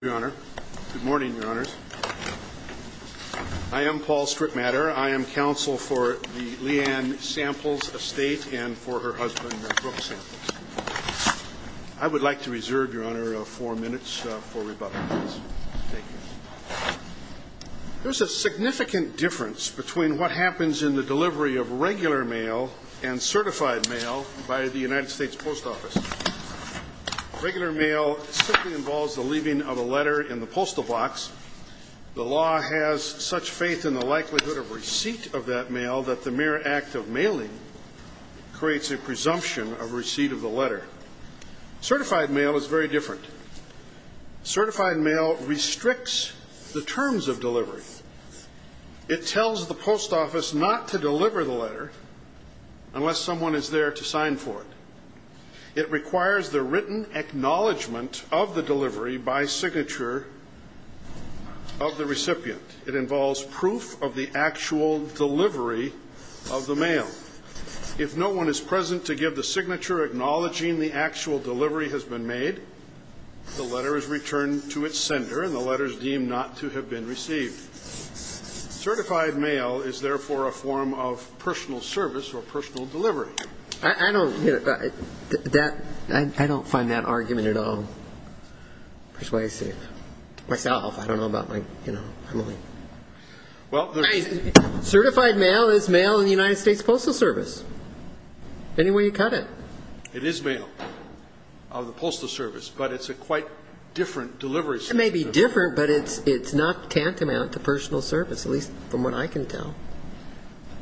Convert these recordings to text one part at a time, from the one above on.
Good morning, Your Honors. I am Paul Stripmatter. I am counsel for the Leanne Samples estate and for her husband, Brooke Samples. I would like to reserve, Your Honor, four minutes for rebuttal. There's a significant difference between what happens in the delivery of regular mail and certified mail by the United States Post Office. Regular mail simply involves the leaving of a letter in the postal box. The law has such faith in the likelihood of receipt of that mail that the mere act of mailing creates a presumption of receipt of the letter. Certified mail is very different. Certified mail restricts the terms of delivery. It tells the post office not to deliver the letter unless someone is there to sign for it. It requires the written acknowledgment of the delivery by signature of the recipient. It involves proof of the actual delivery of the mail. If no one is present to give the signature acknowledging the actual delivery has been made, the letter is returned to its sender and the letter is deemed not to have been received. Certified mail is therefore a form of personal service or personal delivery. I don't find that argument at all persuasive. Myself, I don't know about my family. Certified mail is mail in the United States Postal Service, any way you cut it. It is mail of the Postal Service, but it's a quite different delivery system. It may be different, but it's not tantamount to personal service, at least from what I can tell.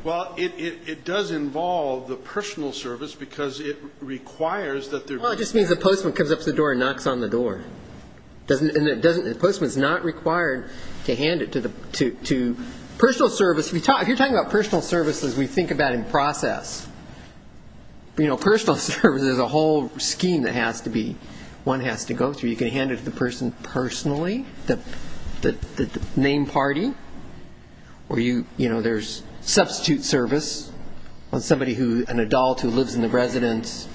Well, it does involve the personal service, because it requires that there be a... Well, it just means the postman comes up to the door and knocks on the door. And the postman is not required to hand it to the personal service. If you're talking about personal services, we think about in process. You know, personal service is a whole scheme that has to be, one has to go through. You can hand it to the person personally, the name party. Or, you know, there's substitute service on somebody who, an adult who lives in the residence.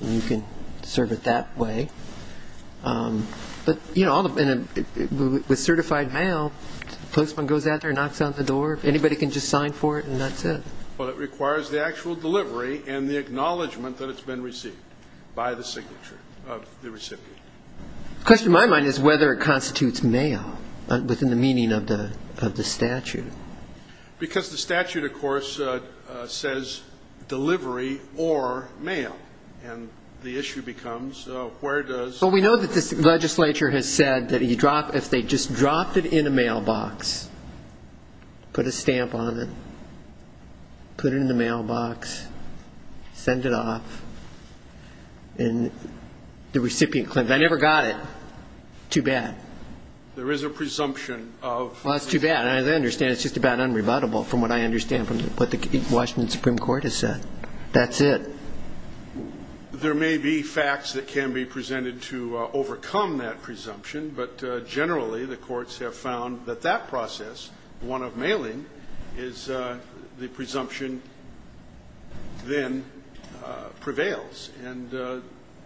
You can serve it that way. But, you know, with certified mail, the postman goes out there and knocks on the door. Anybody can just sign for it, and that's it. Well, it requires the actual delivery and the acknowledgement that it's been received by the signature of the recipient. The question in my mind is whether it constitutes mail within the meaning of the statute. Because the statute, of course, says delivery or mail, and the issue becomes where does... Well, we know that this legislature has said that if they just dropped it in a mailbox, put a stamp on it, put it in the mailbox, send it off, and the recipient claims, I never got it. Too bad. There is a presumption of... Well, that's too bad. As I understand it, it's just about unrebuttable from what I understand from what the Washington Supreme Court has said. That's it. There may be facts that can be presented to overcome that presumption, but generally the courts have found that that process, one of mailing, is the presumption then prevails, and the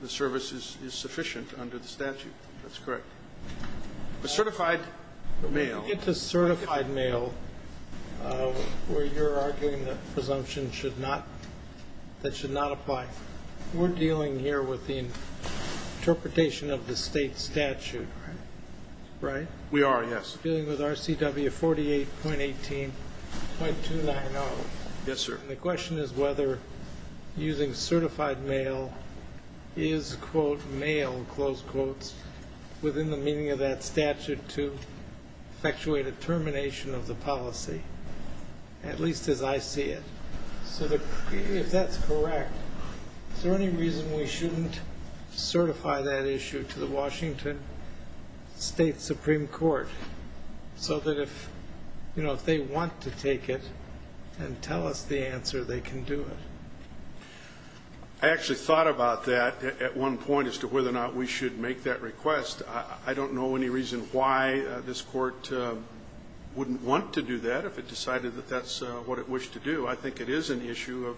service is sufficient under the statute. That's correct. But certified mail... It's a certified mail where you're arguing that presumption should not, that should not apply. We're dealing here with the interpretation of the State statute. Right. We are, yes. Dealing with RCW 48.18.290. Yes, sir. The question is whether using certified mail is, quote, mail, close quotes, within the meaning of that statute to effectuate a termination of the policy, at least as I see it. So if that's correct, is there any reason we shouldn't certify that issue to the Washington State Supreme Court so that if, you know, if they want to take it and tell us the answer, they can do it? I actually thought about that at one point as to whether or not we should make that request. I don't know any reason why this Court wouldn't want to do that if it decided that that's what it wished to do. I think it is an issue of,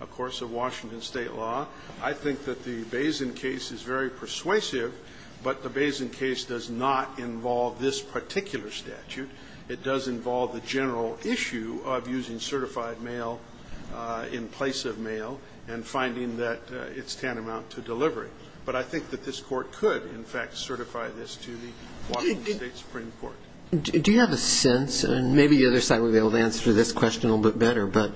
of course, of Washington State law. I think that the Bazin case is very persuasive. But the Bazin case does not involve this particular statute. It does involve the general issue of using certified mail in place of mail and finding that it's tantamount to delivery. But I think that this Court could, in fact, certify this to the Washington State Supreme Court. Do you have a sense, and maybe the other side will be able to answer this question a little bit better. But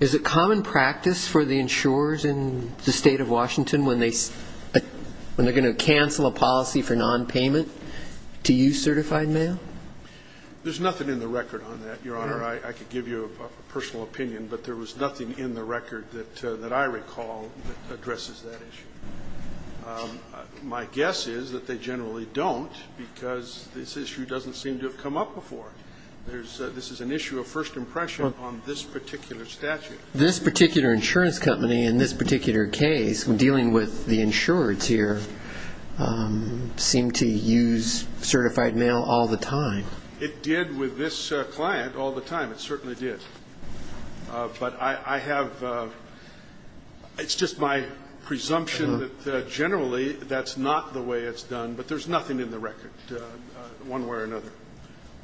is it common practice for the insurers in the State of Washington when they are going to cancel a policy for nonpayment to use certified mail? There's nothing in the record on that, Your Honor. I could give you a personal opinion, but there was nothing in the record that I recall that addresses that issue. My guess is that they generally don't because this issue doesn't seem to have come up before. This is an issue of first impression on this particular statute. This particular insurance company in this particular case, dealing with the insurers here, seemed to use certified mail all the time. It did with this client all the time. It certainly did. But I have ‑‑ it's just my presumption that generally that's not the way it's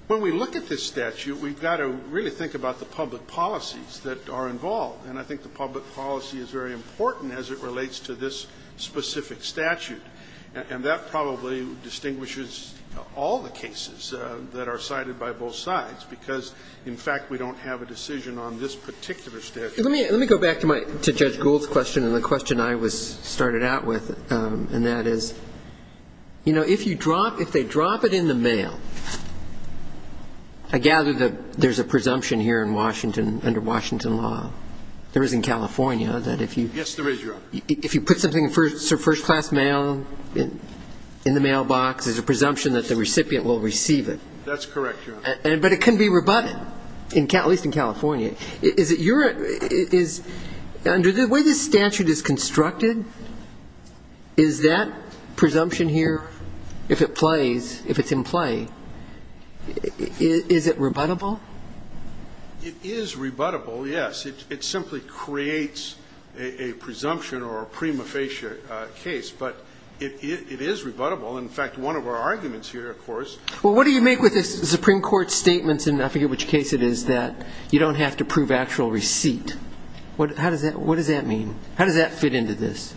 When we look at this statute, we've got to really think about the public policies that are involved. And I think the public policy is very important as it relates to this specific statute. And that probably distinguishes all the cases that are cited by both sides because, in fact, we don't have a decision on this particular statute. Let me go back to Judge Gould's question and the question I started out with, and that is, you know, if you drop ‑‑ if they drop it in the mail, I gather that there's a presumption here in Washington under Washington law. There is in California that if you ‑‑ Yes, there is, Your Honor. If you put something in first class mail in the mailbox, there's a presumption that the recipient will receive it. That's correct, Your Honor. But it can be rebutted, at least in California. Okay. Is it your ‑‑ under the way this statute is constructed, is that presumption here, if it plays, if it's in play, is it rebuttable? It is rebuttable, yes. It simply creates a presumption or a prima facie case. But it is rebuttable. In fact, one of our arguments here, of course ‑‑ Well, what do you make with the Supreme Court's statements, and I forget which case it is, that you don't have to prove actual receipt. What does that mean? How does that fit into this?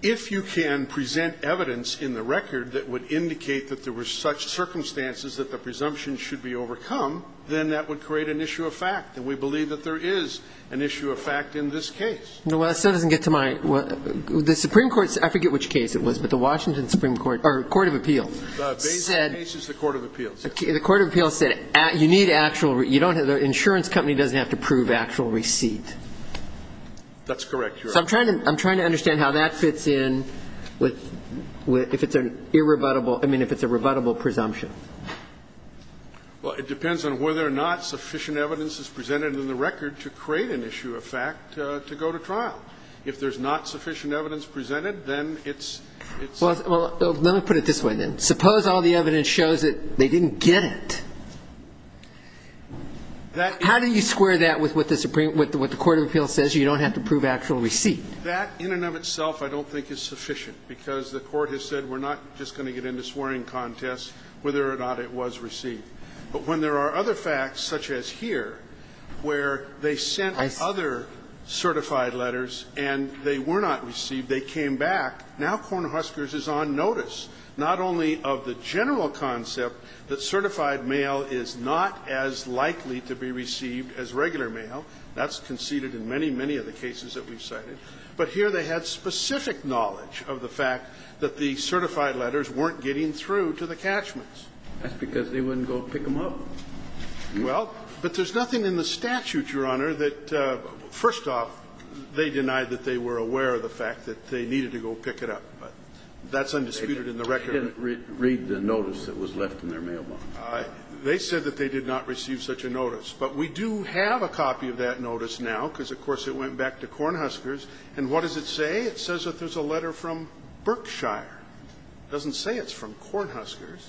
If you can present evidence in the record that would indicate that there were such circumstances that the presumption should be overcome, then that would create an issue of fact, and we believe that there is an issue of fact in this case. Well, that still doesn't get to my ‑‑ the Supreme Court ‑‑ I forget which case it was, but the Washington Supreme Court ‑‑ or Court of Appeals said The case is the Court of Appeals. The Court of Appeals said you need actual ‑‑ the insurance company doesn't have to prove actual receipt. That's correct, Your Honor. So I'm trying to understand how that fits in with ‑‑ if it's an irrebuttable ‑‑ I mean, if it's a rebuttable presumption. Well, it depends on whether or not sufficient evidence is presented in the record to create an issue of fact to go to trial. If there's not sufficient evidence presented, then it's ‑‑ Well, let me put it this way, then. Suppose all the evidence shows that they didn't get it. How do you square that with what the Supreme ‑‑ with what the Court of Appeals says, you don't have to prove actual receipt? That in and of itself I don't think is sufficient, because the Court has said we're not just going to get into swearing contests whether or not it was received. But when there are other facts, such as here, where they sent other certified letters and they were not received, they came back, now Cornhuskers is on notice not only of the general concept that certified mail is not as likely to be received as regular mail, that's conceded in many, many of the cases that we've cited, but here they had specific knowledge of the fact that the certified letters weren't getting through to the catchments. That's because they wouldn't go pick them up. Well, but there's nothing in the statute, Your Honor, that ‑‑ first off, the they denied that they were aware of the fact that they needed to go pick it up. But that's undisputed in the record. They didn't read the notice that was left in their mailbox. They said that they did not receive such a notice. But we do have a copy of that notice now, because, of course, it went back to Cornhuskers. And what does it say? It says that there's a letter from Berkshire. It doesn't say it's from Cornhuskers.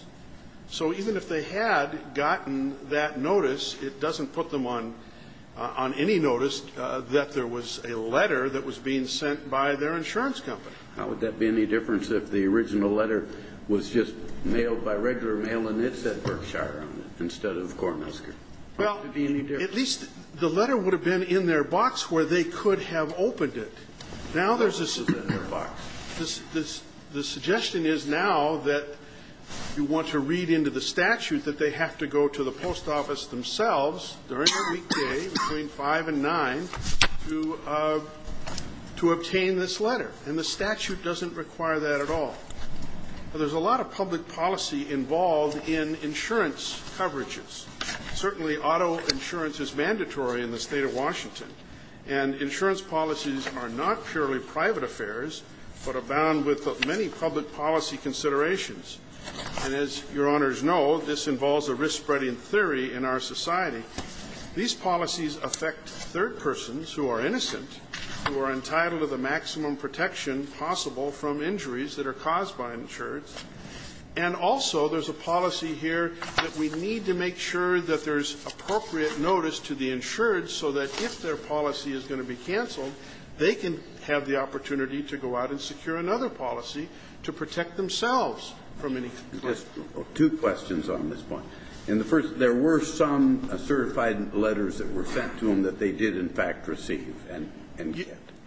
So even if they had gotten that notice, it doesn't put them on any notice that there was a letter that was being sent by their insurance company. Now, would that be any difference if the original letter was just mailed by regular mail and it said Berkshire on it instead of Cornhuskers? Well, at least the letter would have been in their box where they could have opened it. Now there's a suggestion in their box. The suggestion is now that you want to read into the statute that they have to go to the post office themselves during the weekday between five and nine to obtain this letter. And the statute doesn't require that at all. Now, there's a lot of public policy involved in insurance coverages. Certainly auto insurance is mandatory in the State of Washington. And insurance policies are not purely private affairs but are bound with many public policy considerations. And as Your Honors know, this involves a risk-spreading theory in our society. These policies affect third persons who are innocent, who are entitled to the maximum protection possible from injuries that are caused by insurance. And also there's a policy here that we need to make sure that there's appropriate notice to the insured so that if their policy is going to be canceled, they can have the opportunity to go out and secure another policy to protect themselves from any consequences. Two questions on this point. In the first, there were some certified letters that were sent to them that they did in fact receive.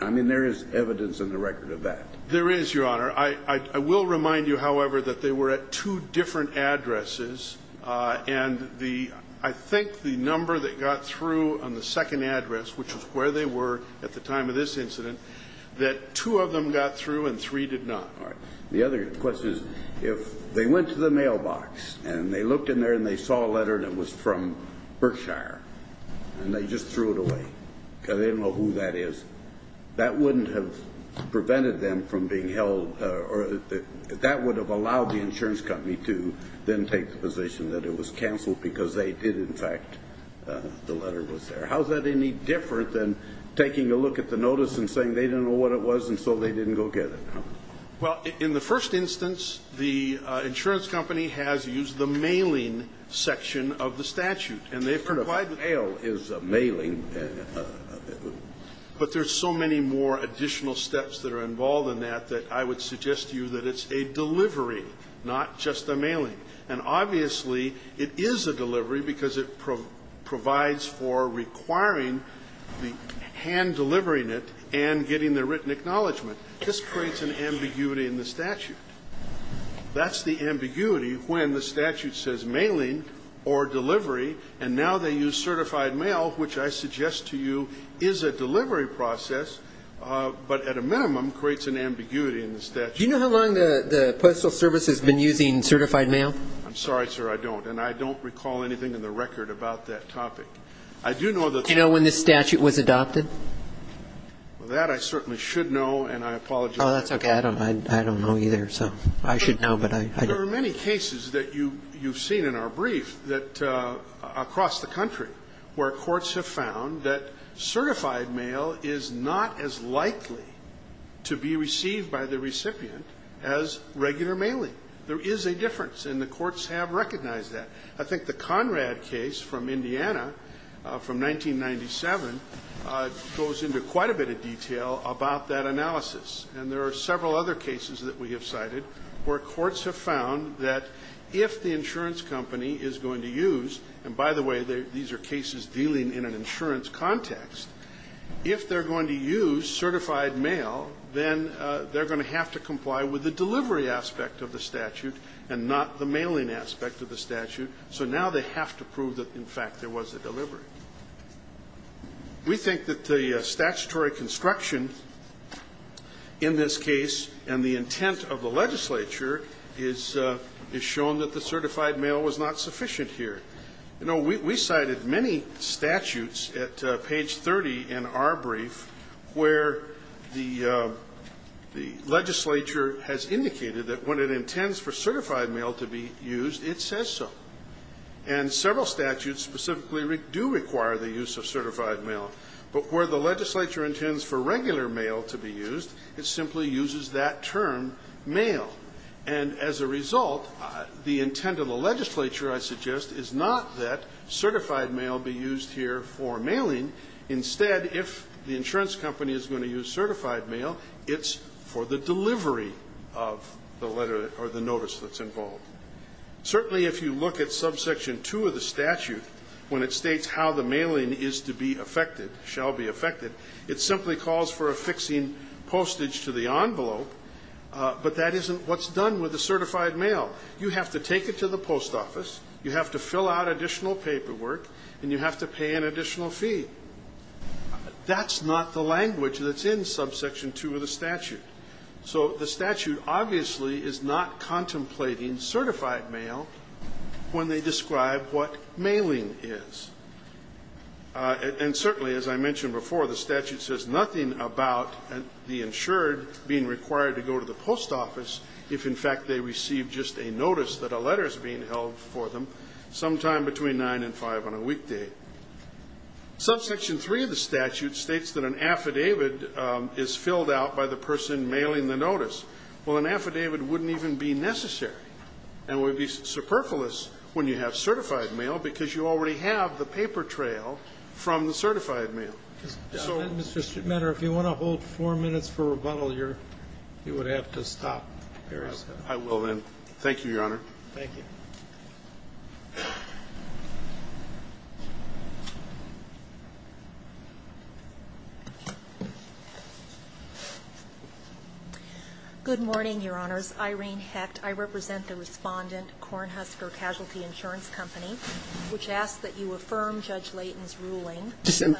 I mean, there is evidence in the record of that. There is, Your Honor. I will remind you, however, that they were at two different addresses. And I think the number that got through on the second address, which was where they were at the time of this incident, that two of them got through and three did not. All right. The other question is if they went to the mailbox and they looked in there and they saw a letter that was from Berkshire and they just threw it away because they didn't know who that is, that wouldn't have prevented them from being held or that would have allowed the insurance company to then take the position that it was canceled because they did in fact, the letter was there. How is that any different than taking a look at the notice and saying they didn't know what it was and so they didn't go get it? Well, in the first instance, the insurance company has used the mailing section of the statute. And they've complied with it. But a fail is a mailing. But there's so many more additional steps that are involved in that that I would suggest to you that it's a delivery, not just a mailing. And obviously it is a delivery because it provides for requiring the hand delivering it and getting the written acknowledgment. This creates an ambiguity in the statute. That's the ambiguity when the statute says mailing or delivery and now they use certified mail, which I suggest to you is a delivery process, but at a minimum creates an ambiguity in the statute. Do you know how long the Postal Service has been using certified mail? I'm sorry, sir. I don't. And I don't recall anything in the record about that topic. I do know that. Do you know when this statute was adopted? That I certainly should know. And I apologize. Oh, that's okay. I don't know either. So I should know. There are many cases that you've seen in our brief that across the country where certified mail is not as likely to be received by the recipient as regular mailing. There is a difference, and the courts have recognized that. I think the Conrad case from Indiana from 1997 goes into quite a bit of detail about that analysis. And there are several other cases that we have cited where courts have found that if the insurance company is going to use, and by the way, these are cases dealing in an insurance context, if they're going to use certified mail, then they're going to have to comply with the delivery aspect of the statute and not the mailing aspect of the statute. So now they have to prove that, in fact, there was a delivery. We think that the statutory construction in this case and the intent of the legislature is shown that the certified mail was not sufficient here. You know, we cited many statutes at page 30 in our brief where the legislature has indicated that when it intends for certified mail to be used, it says so. And several statutes specifically do require the use of certified mail. But where the legislature intends for regular mail to be used, it simply uses that term, mail. And as a result, the intent of the legislature, I suggest, is not that certified mail be used here for mailing. Instead, if the insurance company is going to use certified mail, it's for the delivery of the letter or the notice that's involved. Certainly if you look at subsection 2 of the statute, when it states how the mailing is to be affected, shall be affected, it simply calls for a fixing postage to the envelope. But that isn't what's done with the certified mail. You have to take it to the post office, you have to fill out additional paperwork, and you have to pay an additional fee. That's not the language that's in subsection 2 of the statute. So the statute obviously is not contemplating certified mail when they describe what mailing is. And certainly, as I mentioned before, the statute says nothing about the insured being required to go to the post office if, in fact, they receive just a notice that a letter is being held for them sometime between 9 and 5 on a weekday. Subsection 3 of the statute states that an affidavit is filled out by the person mailing the notice. Well, an affidavit wouldn't even be necessary and would be superfluous when you have certified mail because you already have the paper trail from the certified mail. Mr. Schmitter, if you want to hold four minutes for rebuttal, you would have to stop. I will, then. Thank you, Your Honor. Thank you. Good morning, Your Honors. Irene Hecht. I represent the respondent, Cornhusker Casualty Insurance Company, which asks that you affirm Judge Layton's ruling. Yes, ma'am.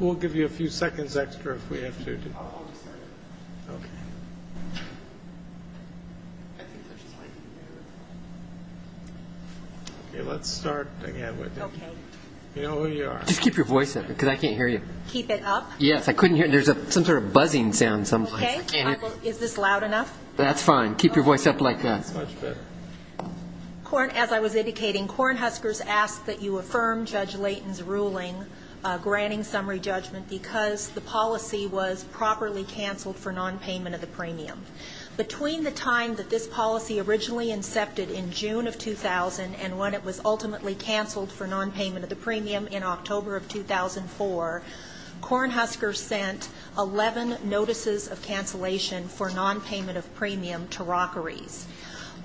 We'll give you a few seconds extra if we have to. Okay. Okay. Let's start again. Okay. You know who you are. Just keep your voice up because I can't hear you. Keep it up? Yes. I couldn't hear you. There's some sort of buzzing sound sometimes. Okay. Is this loud enough? That's fine. Keep your voice up like that. That's much better. As I was indicating, Cornhusker has asked that you affirm Judge Layton's ruling granting summary judgment because the policy was properly canceled for nonpayment of the premium. Between the time that this policy originally incepted in June of 2000 and when it was ultimately canceled for nonpayment of the premium in October of 2004, Cornhusker sent 11 notices of cancellation for nonpayment of premium to Rockery's.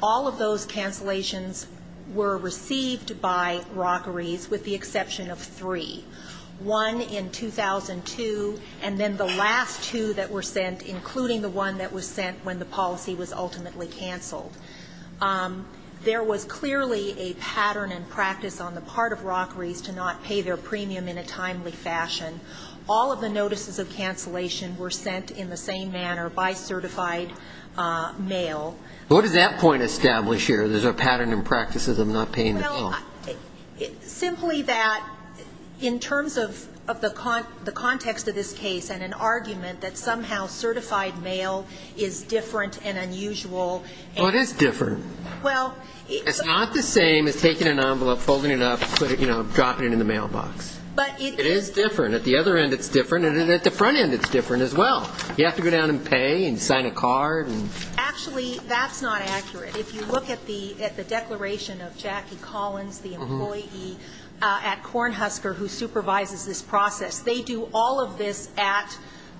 All of those cancellations were received by Rockery's with the exception of three. One in 2002, and then the last two that were sent, including the one that was sent when the policy was ultimately canceled. There was clearly a pattern and practice on the part of Rockery's to not pay their premium in a timely fashion. All of the notices of cancellation were sent in the same manner by certified mail. What does that point establish here? Well, simply that in terms of the context of this case and an argument that somehow certified mail is different and unusual. Well, it is different. It's not the same as taking an envelope, folding it up, dropping it in the mailbox. It is different. At the other end it's different, and at the front end it's different as well. You have to go down and pay and sign a card. Actually, that's not accurate. If you look at the declaration of Jackie Collins, the employee at Cornhusker who supervises this process, they do all of this at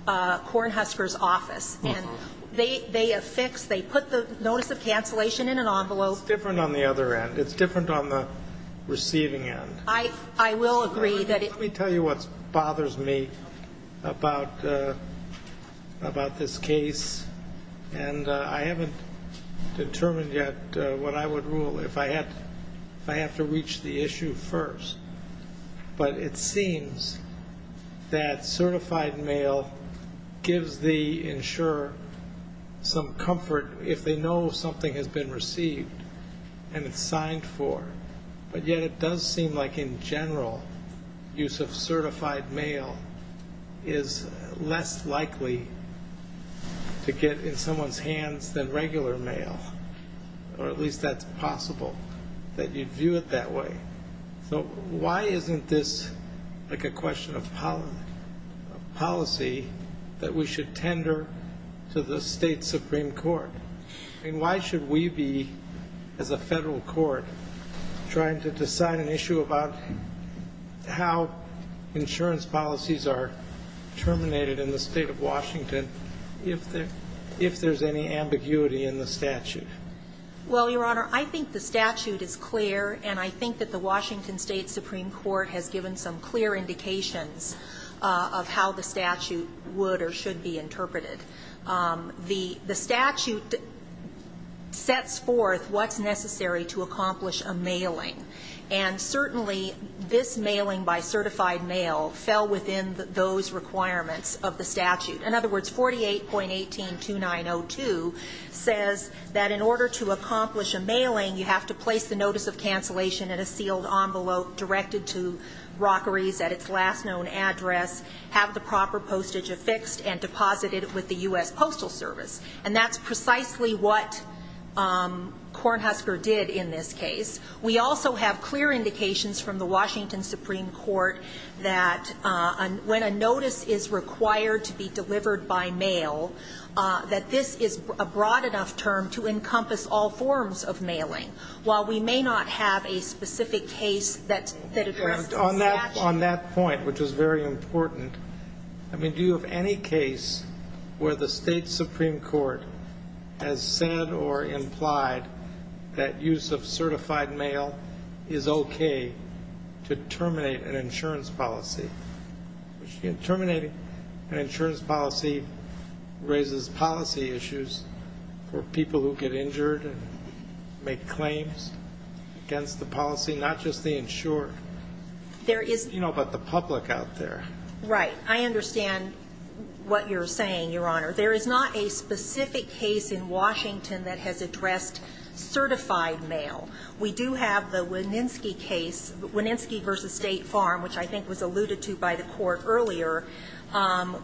Cornhusker's office, and they affix, they put the notice of cancellation in an envelope. It's different on the other end. It's different on the receiving end. I will agree that it's different. Let me tell you what bothers me about this case. And I haven't determined yet what I would rule if I have to reach the issue first. But it seems that certified mail gives the insurer some comfort if they know something has been received and it's signed for. But yet it does seem like in general use of certified mail is less likely to get in someone's hands than regular mail, or at least that's possible, that you view it that way. So why isn't this like a question of policy that we should tender to the state supreme court? I mean, why should we be, as a federal court, trying to decide an issue about how insurance policies are terminated in the State of Washington if there's any ambiguity in the statute? Well, Your Honor, I think the statute is clear, and I think that the Washington State Supreme Court has given some clear indications of how the statute would or should be interpreted. The statute sets forth what's necessary to accomplish a mailing, and certainly this mailing by certified mail fell within those requirements of the statute. In other words, 48.182902 says that in order to accomplish a mailing, you have to place the notice of cancellation in a sealed envelope directed to Rockeries at its last known address, have the proper postage affixed, and deposit it with the U.S. Postal Service. And that's precisely what Cornhusker did in this case. We also have clear indications from the Washington Supreme Court that when a notice is required to be delivered by mail, that this is a broad enough term to encompass all forms of mailing, while we may not have a specific case that addressed the statute. On that point, which is very important, I mean, do you have any case where the State Supreme Court has said or implied that use of certified mail is okay to terminate an insurance policy? Terminating an insurance policy raises policy issues for people who get injured and make claims against the policy, not just the insured, you know, but the public out there. Right. I understand what you're saying, Your Honor. There is not a specific case in Washington that has addressed certified mail. We do have the Wininski case, Wininski v. State Farm, which I think was alluded to by the Court earlier,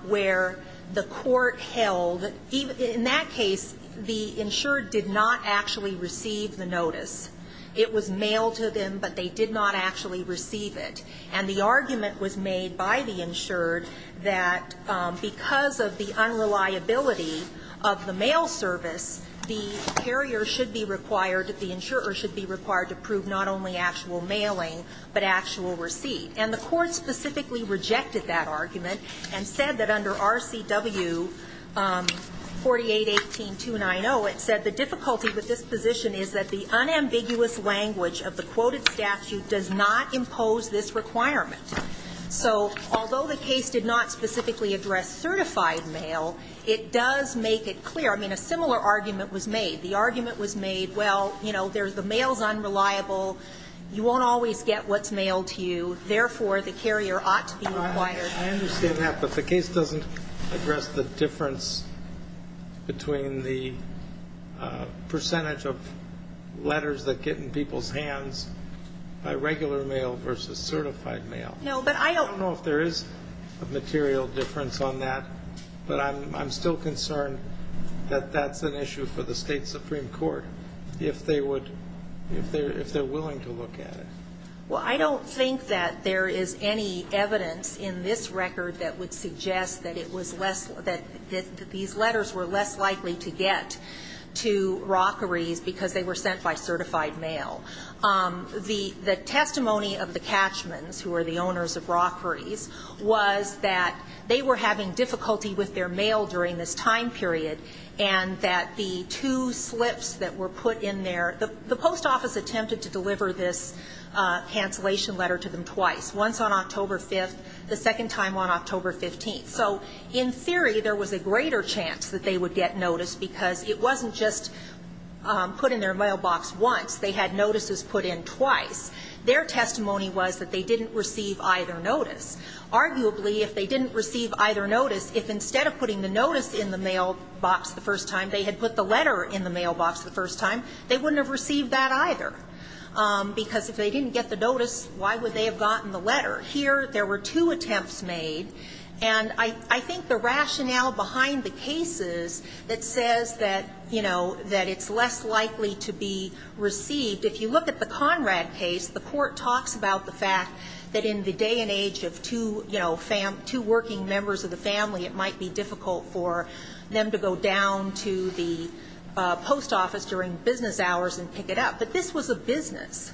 where the Court held, in that case, the insured did not actually receive the notice. It was mailed to them, but they did not actually receive it. And the argument was made by the insured that because of the unreliability of the mail service, the carrier should be required, the insurer should be required to prove not only actual mailing but actual receipt. And the Court specifically rejected that argument and said that under RCW 4818-290, it said the difficulty with this position is that the unambiguous language of the quoted statute does not impose this requirement. So although the case did not specifically address certified mail, it does make it clear. I mean, a similar argument was made. The argument was made, well, you know, the mail is unreliable, you won't always get what's mailed to you, therefore, the carrier ought to be required. I understand that, but the case doesn't address the difference between the percentage of letters that get in people's hands by regular mail versus certified mail. I don't know if there is a material difference on that, but I'm still concerned that that's an issue for the State Supreme Court, if they would, if they're willing to look at it. Well, I don't think that there is any evidence in this record that would suggest that it was less, that these letters were less likely to get to Rockery's because they were sent by certified mail. The testimony of the Catchmans, who are the owners of Rockery's, was that they were having difficulty with their mail during this time period, and that the two slips that were put in there, the post office attempted to deliver this cancellation letter to them twice, once on October 5th, the second time on October 15th. So in theory, there was a greater chance that they would get notice because it wasn't just put in their mailbox once, they had notices put in twice. Their testimony was that they didn't receive either notice. Arguably, if they didn't receive either notice, if instead of putting the notice in the mailbox the first time, they had put the letter in the mailbox the first time, they wouldn't have received that either, because if they didn't get the notice, why would they have gotten the letter? Here, there were two attempts made, and I think the rationale behind the cases that says that, you know, that it's less likely to be received, if you look at the two, you know, two working members of the family, it might be difficult for them to go down to the post office during business hours and pick it up. But this was a business.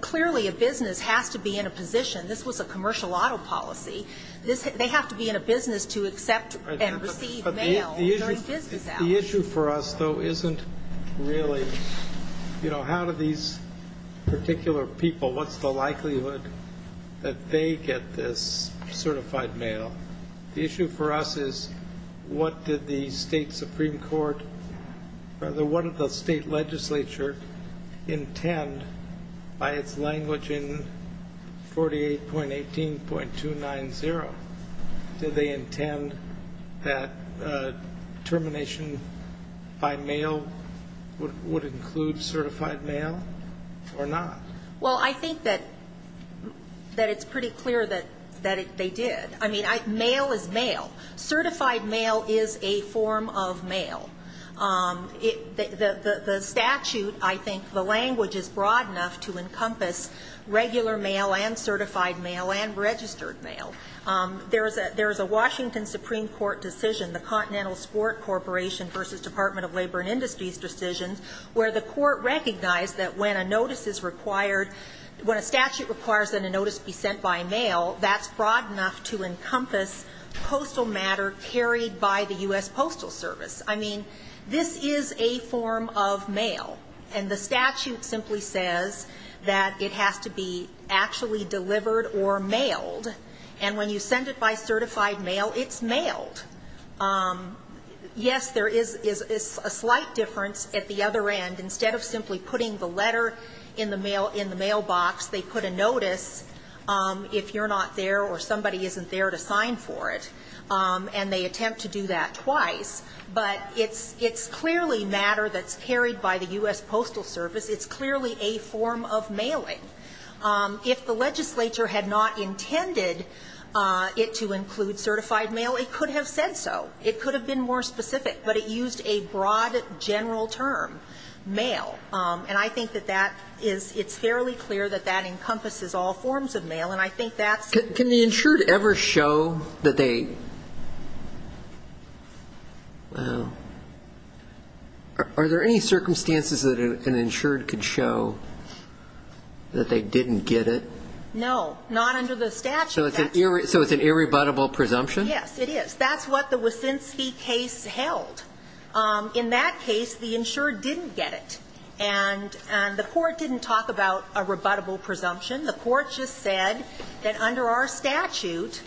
Clearly, a business has to be in a position. This was a commercial auto policy. They have to be in a business to accept and receive mail during business hours. The issue for us, though, isn't really, you know, how do these particular people, what's the likelihood that they get this certified mail? The issue for us is what did the state Supreme Court, rather, what did the state legislature intend by its language in 48.18.290? Did they intend that termination by mail would include certified mail or not? Well, I think that it's pretty clear that they did. I mean, mail is mail. Certified mail is a form of mail. The statute, I think the language is broad enough to encompass regular mail and certified mail and registered mail. There is a Washington Supreme Court decision, the Continental Sport Corporation versus Department of Labor and Industries decisions, where the court recognized that when a notice is required, when a statute requires that a notice be sent by mail, that's broad enough to encompass postal matter carried by the U.S. Postal Service. I mean, this is a form of mail. And the statute simply says that it has to be actually delivered or mailed. Yes, there is a slight difference at the other end. Instead of simply putting the letter in the mail, in the mailbox, they put a notice if you're not there or somebody isn't there to sign for it. And they attempt to do that twice. But it's clearly matter that's carried by the U.S. Postal Service. It's clearly a form of mailing. If the legislature had not intended it to include certified mail, it could have said so. It could have been more specific. But it used a broad general term, mail. And I think that that is ñ it's fairly clear that that encompasses all forms of mail. And I think that's ñ Can the insured ever show that they ñ wow. Are there any circumstances that an insured could show that they didn't get it? No. Not under the statute. So it's an irrebuttable presumption? Yes, it is. That's what the Wysinski case held. In that case, the insured didn't get it. And the court didn't talk about a rebuttable presumption. The court just said that under our statute,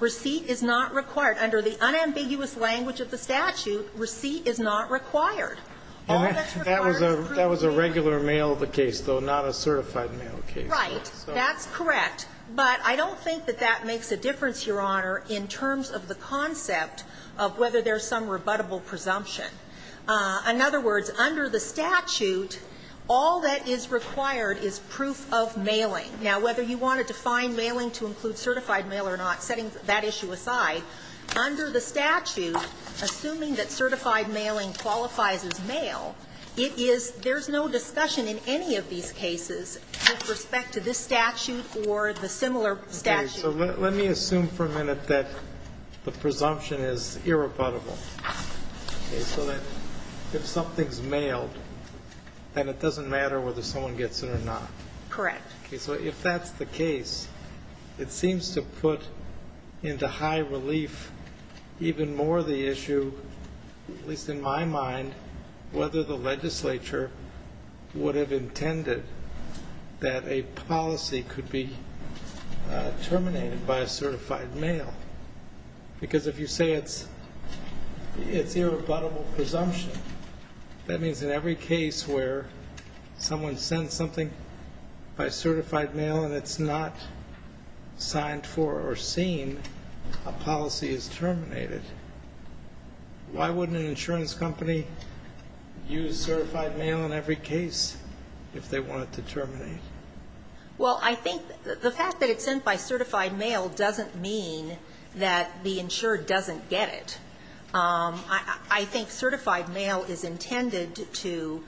receipt is not required. Under the unambiguous language of the statute, receipt is not required. All that's required is proof. That was a regular mail case, though, not a certified mail case. Right. That's correct. But I don't think that that makes a difference, Your Honor, in terms of the concept of whether there's some rebuttable presumption. In other words, under the statute, all that is required is proof of mailing. Now, whether you want to define mailing to include certified mail or not, setting that issue aside, under the statute, assuming that certified mailing qualifies as mail, it is ñ there's no discussion in any of these cases with respect to this particular case. It's just a matter of whether you have a similar statute. Okay. So let me assume for a minute that the presumption is irrebuttable, okay, so that if something's mailed, then it doesn't matter whether someone gets it or not. Correct. Okay. So if that's the case, it seems to put into high relief even more the issue, at least in my mind, whether the legislature would have intended that a policy could be terminated by a certified mail. Because if you say it's irrebuttable presumption, that means in every case where someone sends something by certified mail and it's not signed for or seen, a policy is terminated. Why wouldn't an insurance company use certified mail in every case if they want it to terminate? Well, I think the fact that it's sent by certified mail doesn't mean that the insured doesn't get it. I think certified mail is intended to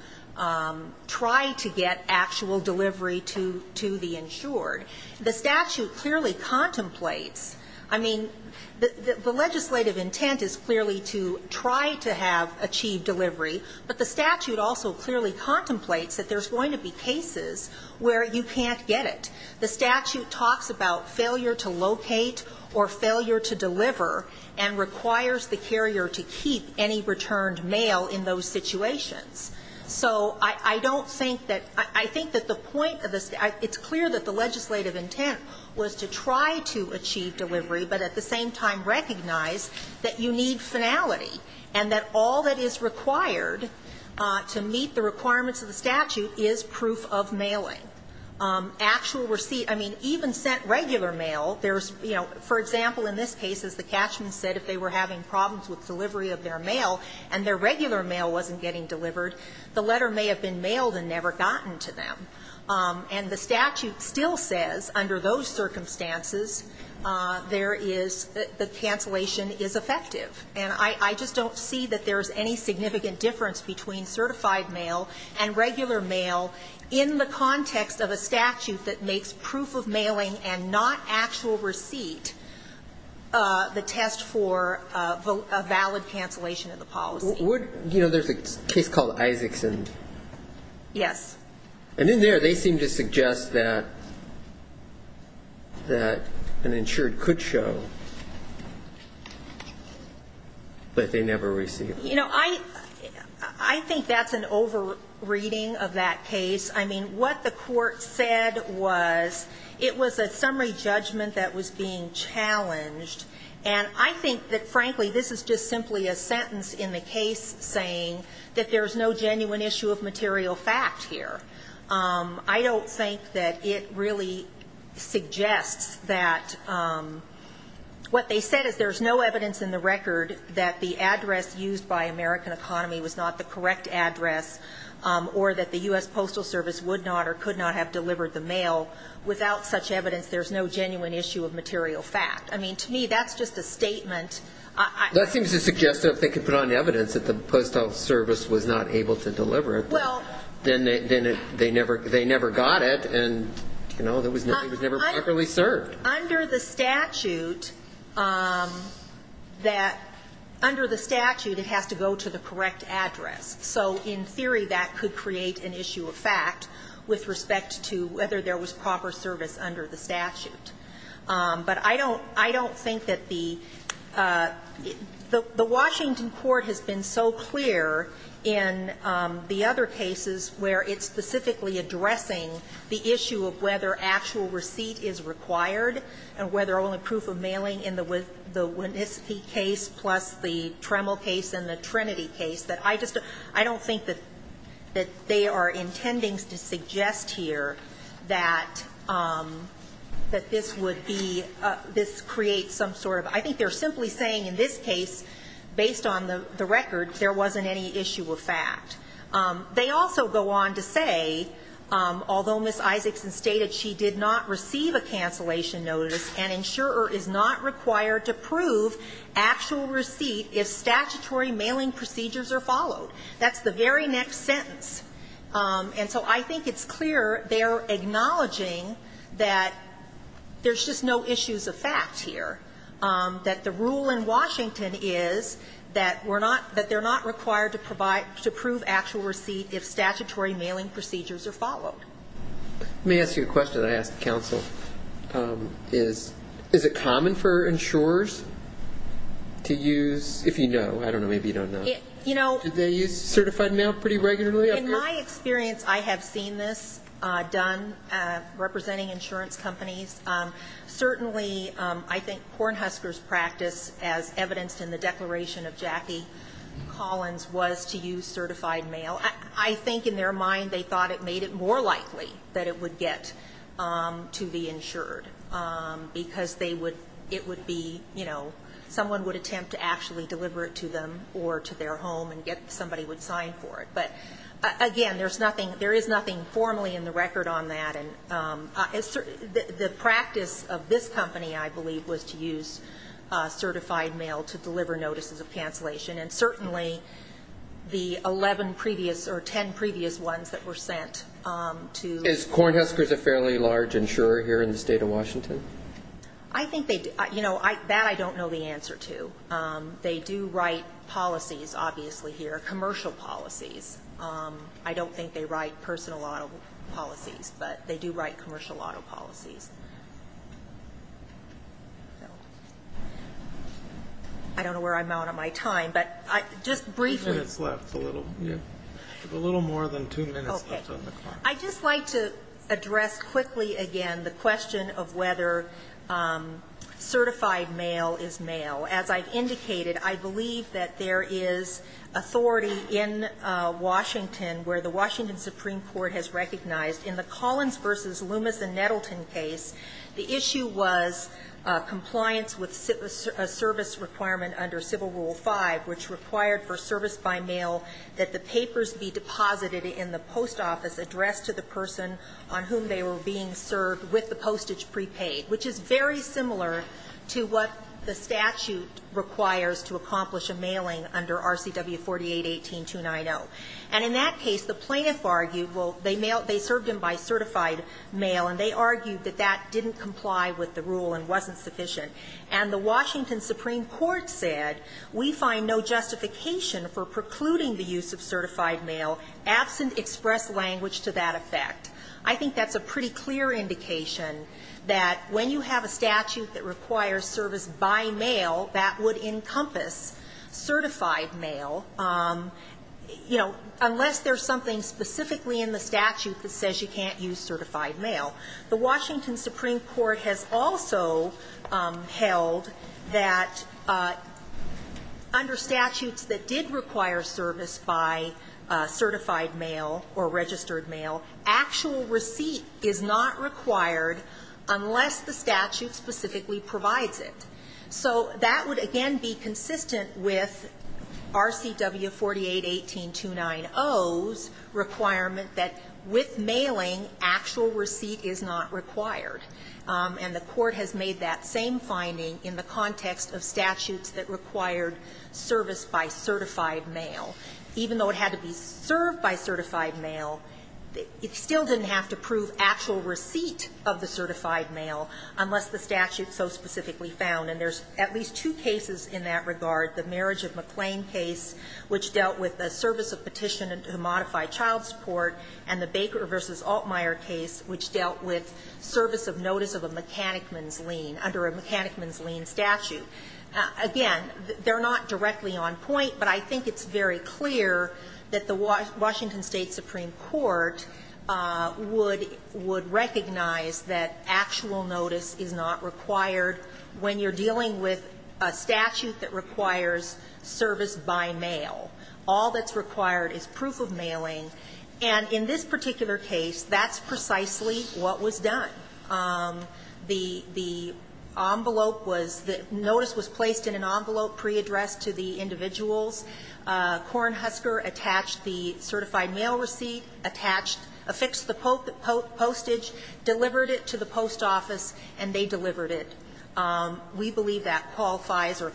try to get actual delivery to the insured. The statute clearly contemplates, I mean, the legislative intent is clearly to try to have achieved delivery, but the statute also clearly contemplates that there's going to be cases where you can't get it. The statute talks about failure to locate or failure to deliver and requires the carrier to keep any returned mail in those situations. So I don't think that the point of this, it's clear that the legislative intent was to try to achieve delivery, but at the same time recognize that you need finality and that all that is required to meet the requirements of the statute is proof of mailing. Actual receipt, I mean, even sent regular mail, there's, you know, for example, in this case, as the catchment said, if they were having problems with delivery of their mail and their regular mail wasn't getting delivered, the letter may have been mailed and never gotten to them. And the statute still says under those circumstances there is the cancellation is effective. And I just don't see that there's any significant difference between certified mail and regular mail in the context of a statute that makes proof of mailing and not actual receipt the test for a valid cancellation of the policy. Would, you know, there's a case called Isaacson. Yes. And in there they seem to suggest that an insured could show that they never received. You know, I think that's an over-reading of that case. I mean, what the court said was it was a summary judgment that was being challenged. And I think that, frankly, this is just simply a sentence in the case saying that there's no genuine issue of material fact here. I don't think that it really suggests that what they said is there's no evidence in the record that the address used by American Economy was not the correct address or that the U.S. Postal Service would not or could not have delivered the mail. Without such evidence, there's no genuine issue of material fact. I mean, to me, that's just a statement. That seems to suggest that if they could put on evidence that the Postal Service was not able to deliver it, then they never got it and, you know, it was never properly served. Under the statute, it has to go to the correct address. So in theory, that could create an issue of fact with respect to whether there was proper service under the statute. But I don't think that the – the Washington court has been so clear in the other cases where it's specifically addressing the issue of whether actual receipt is required and whether only proof of mailing in the Winnissippi case plus the Tremel case and the Trinity case, that I just don't – I don't think that they are intending to suggest here that this would be – this creates some sort of – I think they're simply saying in this case, based on the record, there wasn't any issue of fact. They also go on to say, although Ms. Isaacson stated she did not receive a cancellation notice, an insurer is not required to prove actual receipt if statutory mailing procedures are followed. That's the very next sentence. And so I think it's clear they're acknowledging that there's just no issues of fact here, that the rule in Washington is that we're not – that they're not required to provide – to prove actual receipt if statutory mailing procedures are followed. Let me ask you a question I asked the counsel. Is it common for insurers to use – if you know, I don't know, maybe you don't know. You know – Do they use certified mail pretty regularly up here? In my experience, I have seen this done representing insurance companies. Certainly, I think Cornhusker's practice, as evidenced in the declaration of Jackie Collins, was to use certified mail. I think in their mind, they thought it made it more likely that it would get to be insured because they would – it would be, you know, someone would attempt to actually deliver it to them or to their home and get – somebody would sign for it. But, again, there's nothing – there is nothing formally in the record on that. And the practice of this company, I believe, was to use certified mail to deliver notices of cancellation. And certainly, the 11 previous or 10 previous ones that were sent to – Is Cornhusker's a fairly large insurer here in the state of Washington? I think they – you know, that I don't know the answer to. They do write policies, obviously, here, commercial policies. I don't think they write personal auto policies, but they do write commercial auto policies. I don't know where I'm out of my time, but I – just briefly. Two minutes left. A little, yeah. A little more than two minutes left on the clock. Okay. I'd just like to address quickly again the question of whether certified mail is mail. As I've indicated, I believe that there is authority in Washington where the Washington Supreme Court has recognized in the Collins v. Loomis and Nettleton case, the issue was compliance with a service requirement under Civil Rule V, which required for service by mail that the papers be deposited in the post office addressed to the person on whom they were being served with the postage prepaid, which is very clear. They argued, well, they served them by certified mail, and they argued that that didn't comply with the rule and wasn't sufficient. And the Washington Supreme Court said we find no justification for precluding the use of certified mail absent express language to that effect. I think that's a pretty clear indication that when you have a statute that requires service by mail, that would encompass certified mail. You know, unless there's something specifically in the statute that says you can't use certified mail. The Washington Supreme Court has also held that under statutes that did require service by certified mail or registered mail, actual receipt is not required unless the statute specifically provides it. So that would, again, be consistent with RCW 48-18-290's requirement that with mailing, actual receipt is not required. And the Court has made that same finding in the context of statutes that required service by certified mail. Even though it had to be served by certified mail, it still didn't have to prove actual receipt of the certified mail unless the statute so specifically found. And there's at least two cases in that regard. The Marriage of McLean case, which dealt with a service of petition to modify child support, and the Baker v. Altmyer case, which dealt with service of notice of a mechanicman's lien under a mechanicman's lien statute. Again, they're not directly on point, but I think it's very clear that the Washington State Supreme Court would recognize that actual notice is not required when you're dealing with a statute that requires service by mail. All that's required is proof of mailing. And in this particular case, that's precisely what was done. The envelope was the notice was placed in an envelope pre-addressed to the individuals. Kornhusker attached the certified mail receipt, attached, affixed the postage, delivered it to the post office, and they delivered it. We believe that qualifies or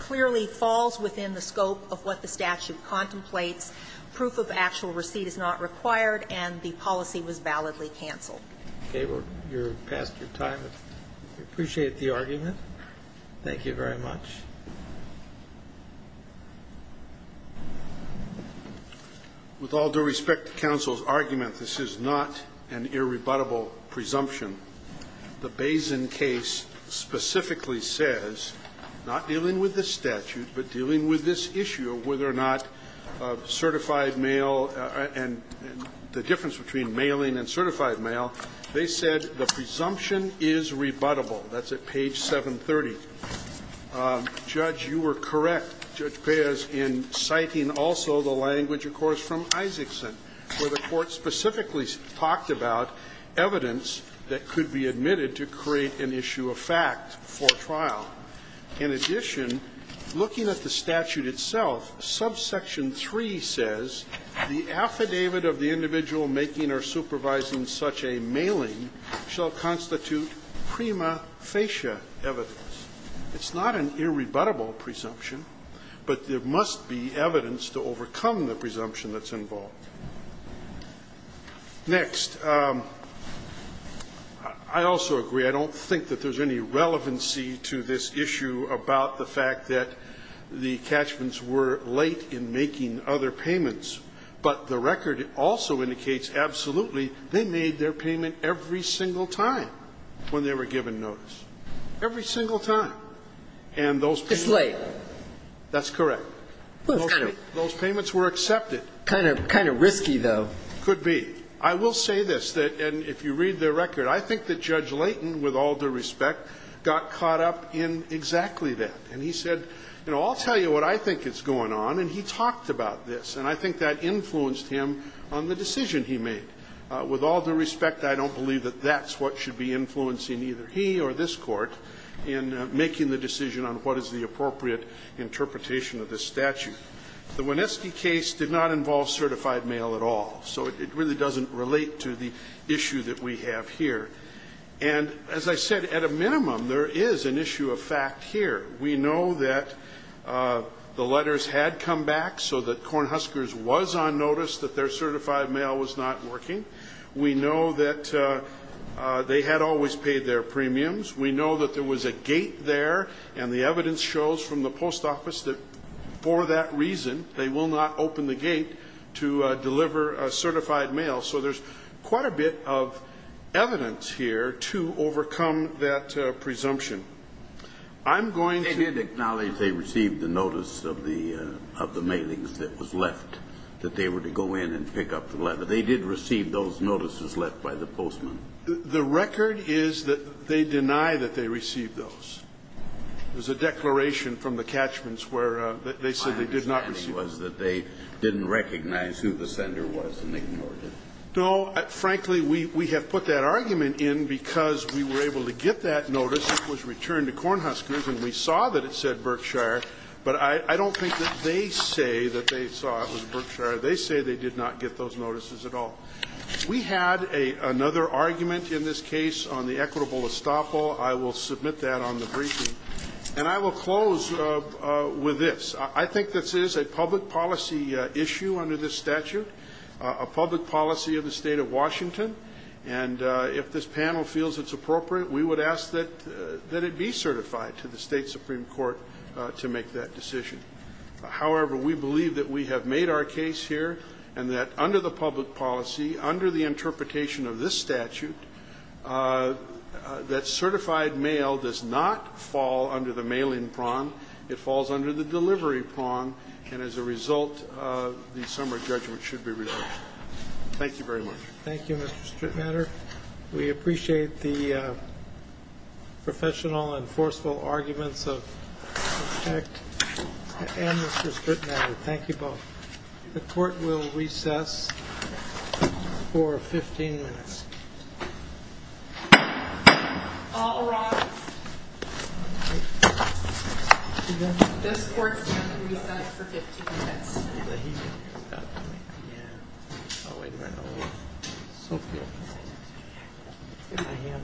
clearly falls within the scope of what the statute contemplates. Proof of actual receipt is not required, and the policy was validly canceled. Okay. We're past your time. We appreciate the argument. Thank you very much. With all due respect to counsel's argument, this is not an irrebuttable presumption. The Bazin case specifically says, not dealing with this statute, but dealing with this issue of whether or not certified mail and the difference between mailing and certified mail, they said the presumption is rebuttable. That's at page 730. Judge, you were correct, Judge Baez, in citing also the language, of course, from Isaacson, where the Court specifically talked about evidence that could be admitted to create an issue of fact for trial. In addition, looking at the statute itself, subsection 3 says, the affidavit of the individual making or supervising such a mailing shall constitute prima facie evidence. It's not an irrebuttable presumption, but there must be evidence to overcome the presumption that's involved. Next. I also agree, I don't think that there's any relevancy to this issue about the fact that the catchments were late in making other payments, but the record also indicates absolutely they made their payment every single time when they were given notice. Every single time. And those payments were accepted. It's late. That's correct. Those payments were accepted. Kind of risky, though. Could be. I will say this, and if you read the record, I think that Judge Leighton, with all I'll tell you what I think is going on, and he talked about this, and I think that influenced him on the decision he made. With all due respect, I don't believe that that's what should be influencing either he or this Court in making the decision on what is the appropriate interpretation of this statute. The Wineski case did not involve certified mail at all, so it really doesn't relate to the issue that we have here. And as I said, at a minimum, there is an issue of fact here. We know that the letters had come back so that Cornhuskers was on notice that their certified mail was not working. We know that they had always paid their premiums. We know that there was a gate there, and the evidence shows from the post office that for that reason they will not open the gate to deliver certified mail. So there's quite a bit of evidence here to overcome that presumption. I'm going to ---- They did acknowledge they received the notice of the mailings that was left, that they were to go in and pick up the letter. They did receive those notices left by the postman. The record is that they deny that they received those. There's a declaration from the catchments where they said they did not receive those. And the argument was that they didn't recognize who the sender was and they ignored it. No, frankly, we have put that argument in because we were able to get that notice that was returned to Cornhuskers, and we saw that it said Berkshire, but I don't think that they say that they saw it was Berkshire. They say they did not get those notices at all. We had another argument in this case on the equitable estoppel. I will submit that on the briefing. And I will close with this. I think this is a public policy issue under this statute, a public policy of the State of Washington. And if this panel feels it's appropriate, we would ask that it be certified to the State Supreme Court to make that decision. However, we believe that we have made our case here and that under the public policy, under the interpretation of this statute, that certified mail does not fall under the mailing prong. It falls under the delivery prong. And as a result, the summary judgment should be reversed. Thank you very much. Thank you, Mr. Strittmatter. We appreciate the professional and forceful arguments of Mr. Strittmatter and Mr. Strittmatter. Thank you both. The Court will recess for 15 minutes. All rise. This Court will recess for 15 minutes. Okay, thank you. I'll take it.